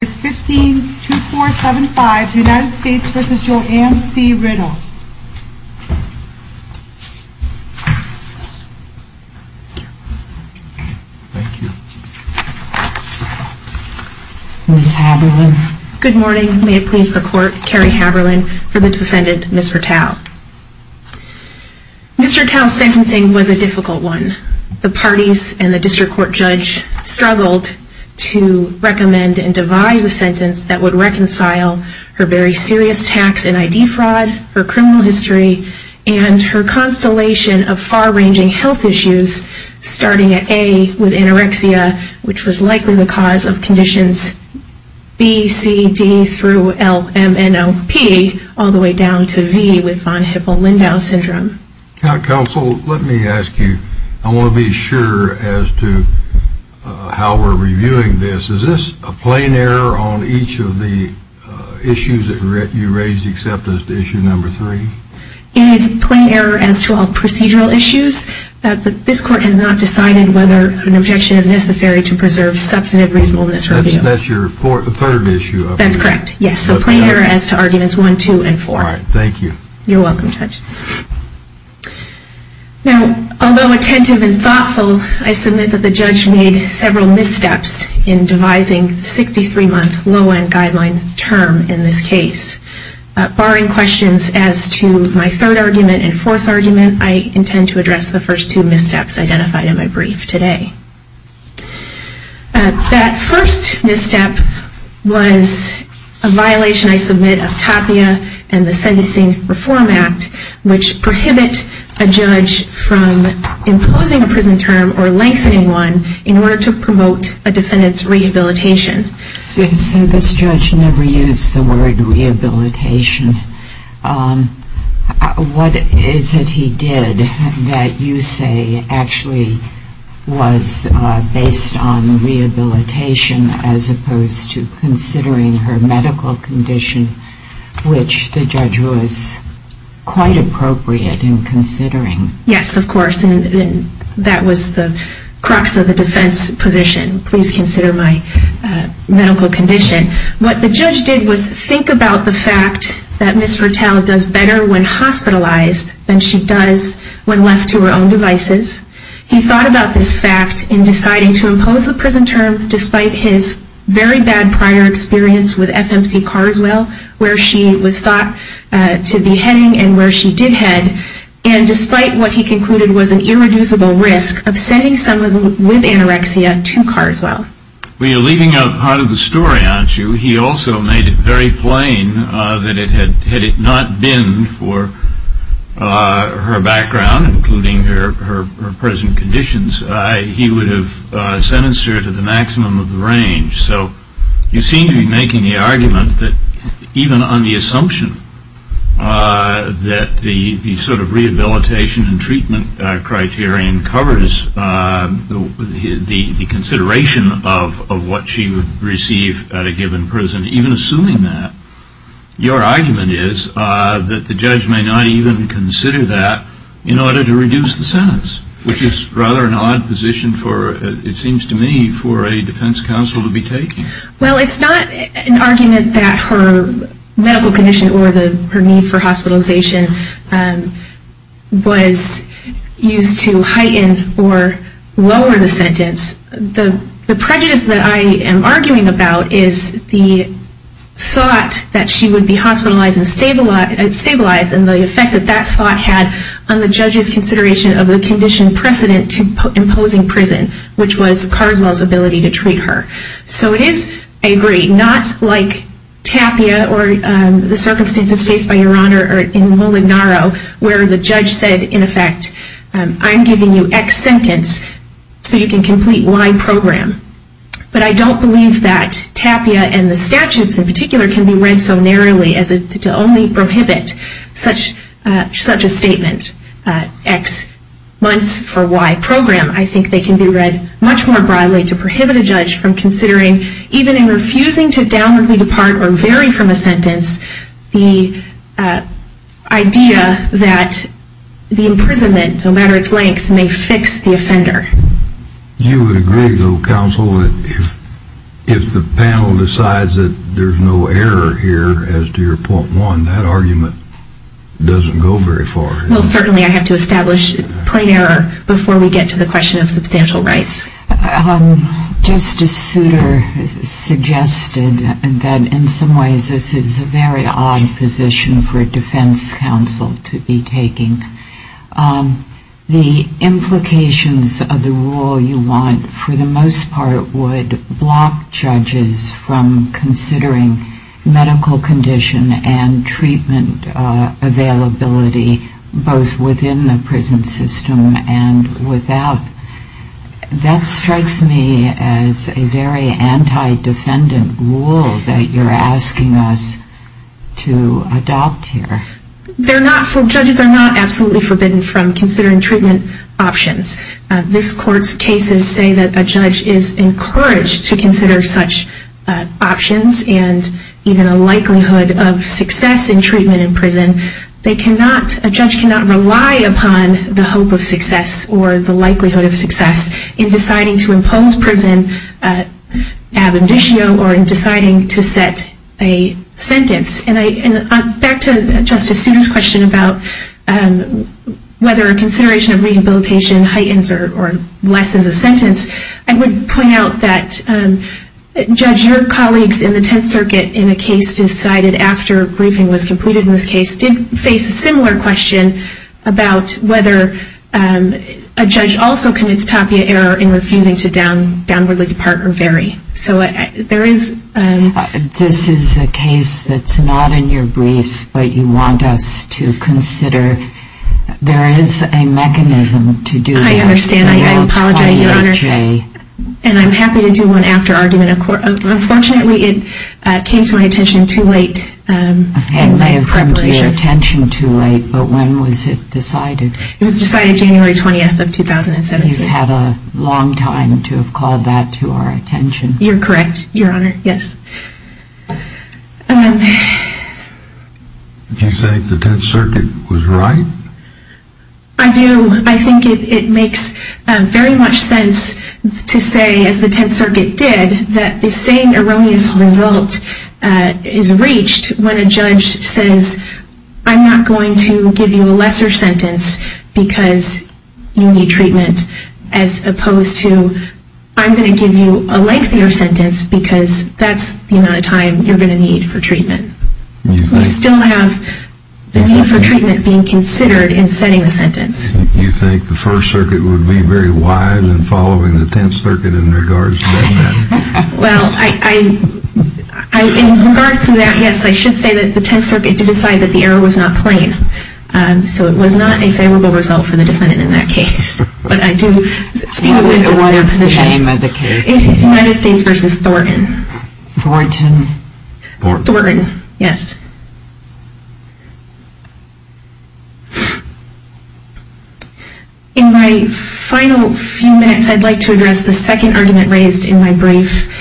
152475 United States v. Joanne C. Rittall Ms. Haberlin Good morning. May it please the court, Carrie Haberlin for the defendant, Mr. Tao. Mr. Tao's sentencing was a difficult one. The parties and the district court judge struggled to recommend and devise a sentence that would reconcile her very serious tax and ID fraud, her criminal history, and her constellation of far-ranging health issues starting at A with anorexia, which was likely the cause of conditions B, C, D, through L, M, N, O, P all the way down to V with von Hippel-Lindau syndrome. Counsel, let me ask you, I want to be sure as to how we're reviewing this. Is this a plain error on each of the issues that you raised except as to issue number three? It is a plain error as to all procedural issues. This court has not decided whether an objection is necessary to preserve substantive reasonableness for review. That's your third issue. That's correct, yes, a plain error as to arguments one, two, and four. All right, thank you. You're welcome, Judge. Now, although attentive and thoughtful, I submit that the judge made several missteps in devising the 63-month low-end guideline term in this case. Barring questions as to my third argument and fourth argument, I intend to address the first two missteps identified in my brief today. That first misstep was a violation, I submit, of TAPIA and the Sentencing Reform Act, which prohibit a judge from imposing a prison term or lengthening one in order to promote a defendant's rehabilitation. So this judge never used the word rehabilitation. What is it he did that you say actually was based on rehabilitation as opposed to considering her medical condition, which the judge was quite appropriate in considering? Yes, of course, and that was the crux of the defense position. Please consider my medical condition. What the judge did was think about the fact that Ms. Fertel does better when hospitalized than she does when left to her own devices. He thought about this fact in deciding to impose the prison term despite his very bad prior experience with FMC Carswell, where she was thought to be heading and where she did head, and despite what he concluded was an irreducible risk of sending someone with anorexia to Carswell. Well, you're leaving out part of the story, aren't you? He also made it very plain that had it not been for her background, including her present conditions, he would have sentenced her to the maximum of the range. So you seem to be making the argument that even on the assumption that the sort of rehabilitation and treatment criterion covers the consideration of what she would receive at a given prison, even assuming that, your argument is that the judge may not even consider that in order to reduce the sentence, which is rather an odd position for, it seems to me, for a defense counsel to be taking. Well, it's not an argument that her medical condition or her need for hospitalization was used to heighten or lower the sentence. The prejudice that I am arguing about is the thought that she would be hospitalized and stabilized and the effect that that thought had on the judge's consideration of the condition precedent to imposing prison, which was Carswell's ability to treat her. So it is, I agree, not like Tapia or the circumstances faced by Your Honor in Willard-Narrow where the judge said, in effect, I'm giving you X sentence so you can complete Y program. But I don't believe that Tapia and the statutes in particular can be read so narrowly as to only prohibit such a statement, X months for Y program. I think they can be read much more broadly to prohibit a judge from considering, even in refusing to downwardly depart or vary from a sentence, the idea that the imprisonment, no matter its length, may fix the offender. You would agree, though, counsel, that if the panel decides that there's no error here as to your point one, that argument doesn't go very far. Well, certainly I have to establish plain error before we get to the question of substantial rights. Justice Souter suggested that, in some ways, this is a very odd position for a defense counsel to be taking. The implications of the rule you want, for the most part, would block judges from considering medical condition and treatment availability, both within the prison system and without. That strikes me as a very anti-defendant rule that you're asking us to adopt here. Judges are not absolutely forbidden from considering treatment options. This Court's cases say that a judge is encouraged to consider such options and even a likelihood of success in treatment in prison. A judge cannot rely upon the hope of success or the likelihood of success in deciding to impose prison ab indicio or in deciding to set a sentence. Back to Justice Souter's question about whether a consideration of rehabilitation heightens or lessens a sentence, I would point out that, Judge, your colleagues in the Tenth Circuit, in a case decided after a briefing was completed in this case, did face a similar question about whether a judge also commits tapia error in refusing to downwardly depart or vary. This is a case that's not in your briefs, but you want us to consider whether there is a mechanism to do that. I understand. I apologize, Your Honor. And I'm happy to do one after argument. Unfortunately, it came to my attention too late. It may have come to your attention too late, but when was it decided? It was decided January 20th of 2017. You've had a long time to have called that to our attention. You're correct, Your Honor. Yes. Do you think the Tenth Circuit was right? I do. I think it makes very much sense to say, as the Tenth Circuit did, that the same erroneous result is reached when a judge says, I'm not going to give you a lesser sentence because you need treatment, as opposed to, I'm going to give you a lengthier sentence because that's the amount of time you're going to need for treatment. You still have the need for treatment being considered in setting the sentence. Do you think the First Circuit would be very wide in following the Tenth Circuit in regards to that matter? Well, in regards to that, yes, I should say that the Tenth Circuit did decide that the error was not plain. So it was not a favorable result for the defendant in that case. What was the name of the case? It was United States v. Thornton. Thornton? Thornton, yes. In my final few minutes, I'd like to address the second argument raised in my brief.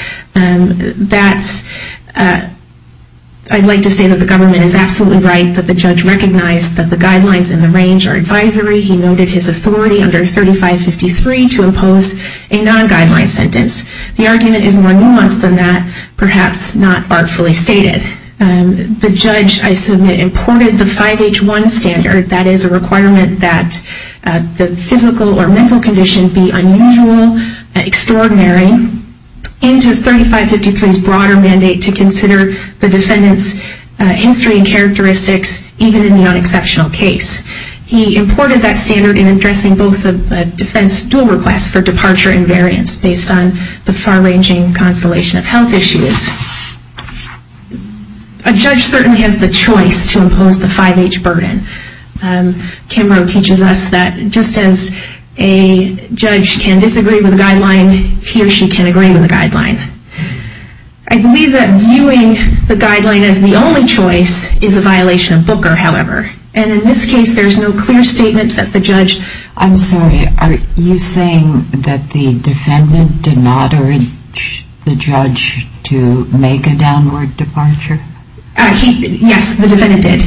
I'd like to say that the government is absolutely right, that the judge recognized that the guidelines in the range are advisory. He noted his authority under 3553 to impose a non-guideline sentence. The argument is more nuanced than that, perhaps not artfully stated. The judge, I submit, imported the 5H1 standard, that is a requirement that the physical or mental condition be unusual, extraordinary, into 3553's broader mandate to consider the defendant's history and characteristics even in the non-exceptional case. He imported that standard in addressing both a defense dual request for departure and variance based on the far-ranging constellation of health issues. A judge certainly has the choice to impose the 5H burden. Kimbrough teaches us that just as a judge can disagree with a guideline, he or she can agree with a guideline. I believe that viewing the guideline as the only choice is a violation of Booker, however. And in this case, there's no clear statement that the judge... I'm sorry, are you saying that the defendant did not urge the judge to make a downward departure? Yes, the defendant did.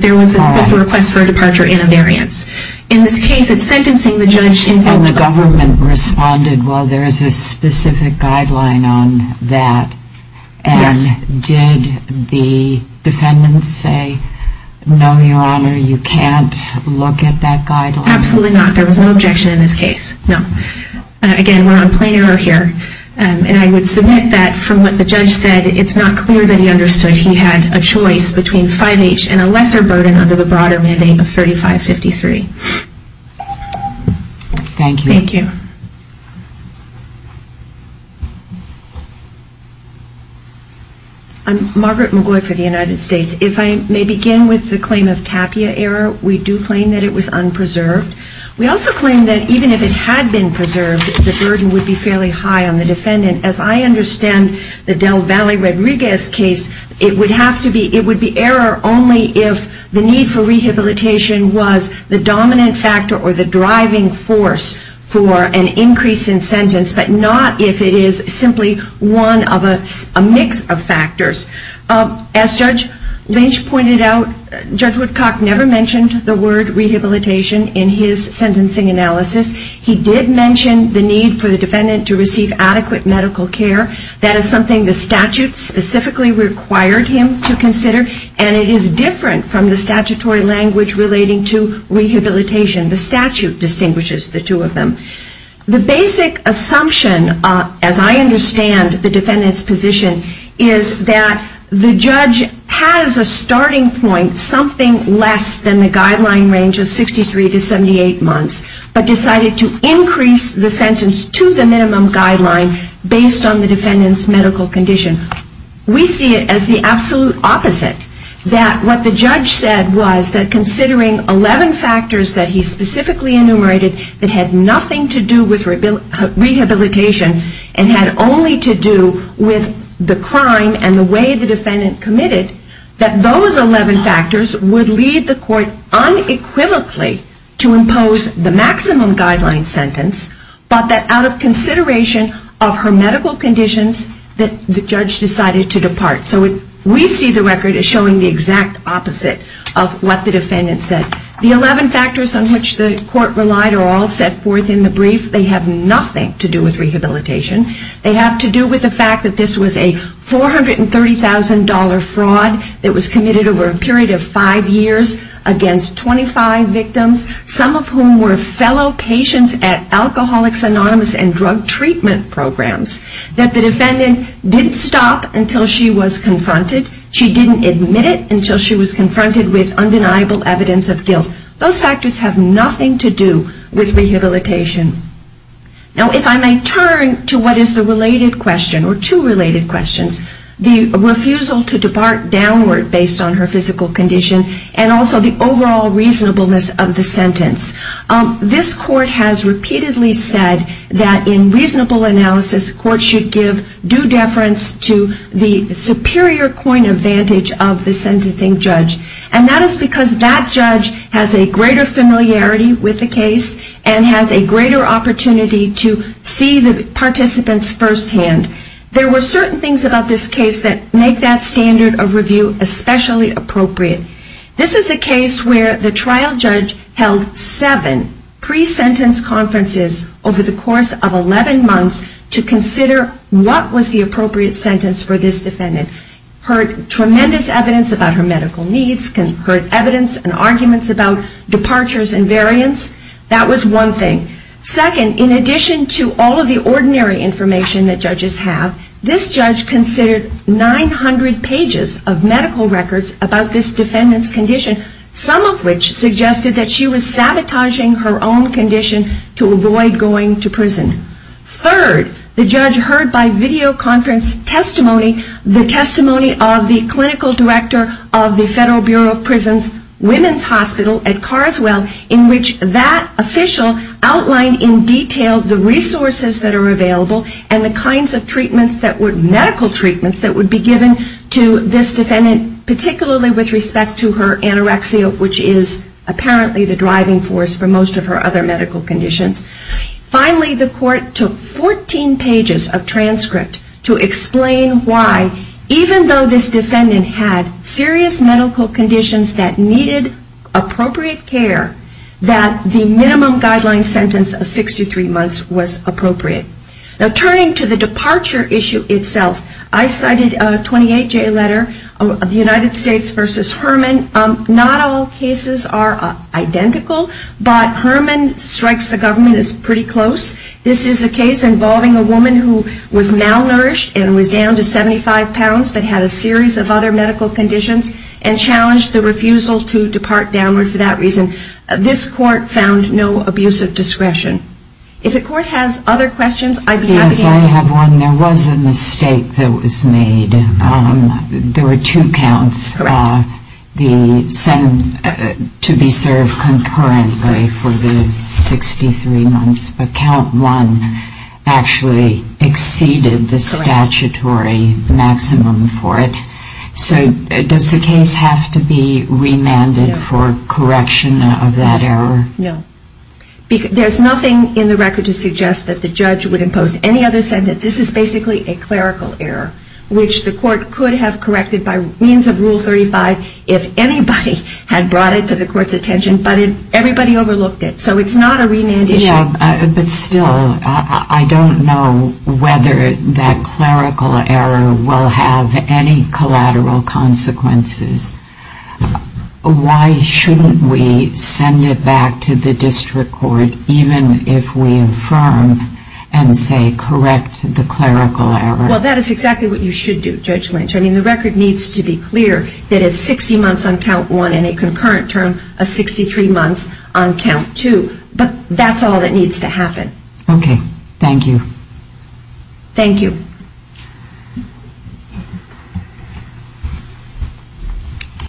There was a request for a departure and a variance. In this case, it's sentencing the judge... And the government responded, well, there is a specific guideline on that. Yes. And did the defendant say, no, Your Honor, you can't look at that guideline? Absolutely not. There was no objection in this case, no. Again, we're on plain error here. And I would submit that from what the judge said, it's not clear that he understood he had a choice between 5H and a lesser burden under the broader mandate of 3553. Thank you. Thank you. I'm Margaret McGoy for the United States. If I may begin with the claim of tapia error, we do claim that it was unpreserved. We also claim that even if it had been preserved, the burden would be fairly high on the defendant. As I understand the Del Valle-Rodriguez case, it would be error only if the need for rehabilitation was the dominant factor or the driving force for an increase in sentence, but not if it is simply one of a mix of factors. As Judge Lynch pointed out, Judge Woodcock never mentioned the word rehabilitation in his sentencing analysis. He did mention the need for the defendant to receive adequate medical care. That is something the statute specifically required him to consider, and it is different from the statutory language relating to rehabilitation. The statute distinguishes the two of them. The basic assumption, as I understand the defendant's position, is that the judge has a starting point something less than the guideline range of 63 to 78 months, but decided to increase the sentence to the minimum guideline based on the defendant's medical condition. We see it as the absolute opposite, that what the judge said was that considering 11 factors that he specifically enumerated that had nothing to do with rehabilitation and had only to do with the crime and the way the defendant committed, that those 11 factors would lead the court unequivocally to impose the maximum guideline sentence, but that out of consideration of her medical conditions, the judge decided to depart. So we see the record as showing the exact opposite of what the defendant said. The 11 factors on which the court relied are all set forth in the brief. They have nothing to do with rehabilitation. They have to do with the fact that this was a $430,000 fraud that was committed over a period of five years against 25 victims, some of whom were fellow patients at Alcoholics Anonymous and drug treatment programs, that the defendant didn't stop until she was confronted. She didn't admit it until she was confronted with undeniable evidence of guilt. Those factors have nothing to do with rehabilitation. Now if I may turn to what is the related question, or two related questions, the refusal to depart downward based on her physical condition and also the overall reasonableness of the sentence. This court has repeatedly said that in reasonable analysis, court should give due deference to the superior coin advantage of the sentencing judge. And that is because that judge has a greater familiarity with the case and has a greater opportunity to see the participants firsthand. There were certain things about this case that make that standard of review especially appropriate. This is a case where the trial judge held seven pre-sentence conferences over the course of 11 months to consider what was the appropriate sentence for this defendant. Heard tremendous evidence about her medical needs, heard evidence and arguments about departures and variants. That was one thing. Second, in addition to all of the ordinary information that judges have, this judge considered 900 pages of medical records about this defendant's condition, some of which suggested that she was sabotaging her own condition to avoid going to prison. Third, the judge heard by videoconference testimony, the testimony of the clinical director of the Federal Bureau of Prisons Women's Hospital at Carswell, in which that official outlined in detail the resources that are available and the kinds of medical treatments that would be given to this defendant, particularly with respect to her anorexia, which is apparently the driving force for most of her other medical conditions. Finally, the court took 14 pages of transcript to explain why, even though this defendant had serious medical conditions that needed appropriate care, that the minimum guideline sentence of 63 months was appropriate. Now turning to the departure issue itself, I cited a 28-J letter of the United States v. Herman. Not all cases are identical, but Herman strikes the government as pretty close. This is a case involving a woman who was malnourished and was down to 75 pounds but had a series of other medical conditions and challenged the refusal to depart downward for that reason. This court found no abuse of discretion. If the court has other questions, I'd be happy to answer them. There was a mistake that was made. There were two counts to be served concurrently for the 63 months, but count one actually exceeded the statutory maximum for it. So does the case have to be remanded for correction of that error? No. There's nothing in the record to suggest that the judge would impose any other sentence. This is basically a clerical error, which the court could have corrected by means of Rule 35 if anybody had brought it to the court's attention, but everybody overlooked it. So it's not a remand issue. But still, I don't know whether that clerical error will have any collateral consequences. Why shouldn't we send it back to the district court even if we affirm and say correct the clerical error? Well, that is exactly what you should do, Judge Lynch. I mean, the record needs to be clear that it's 60 months on count one and a concurrent term of 63 months on count two. But that's all that needs to happen. Okay. Thank you. Thank you. Thank you.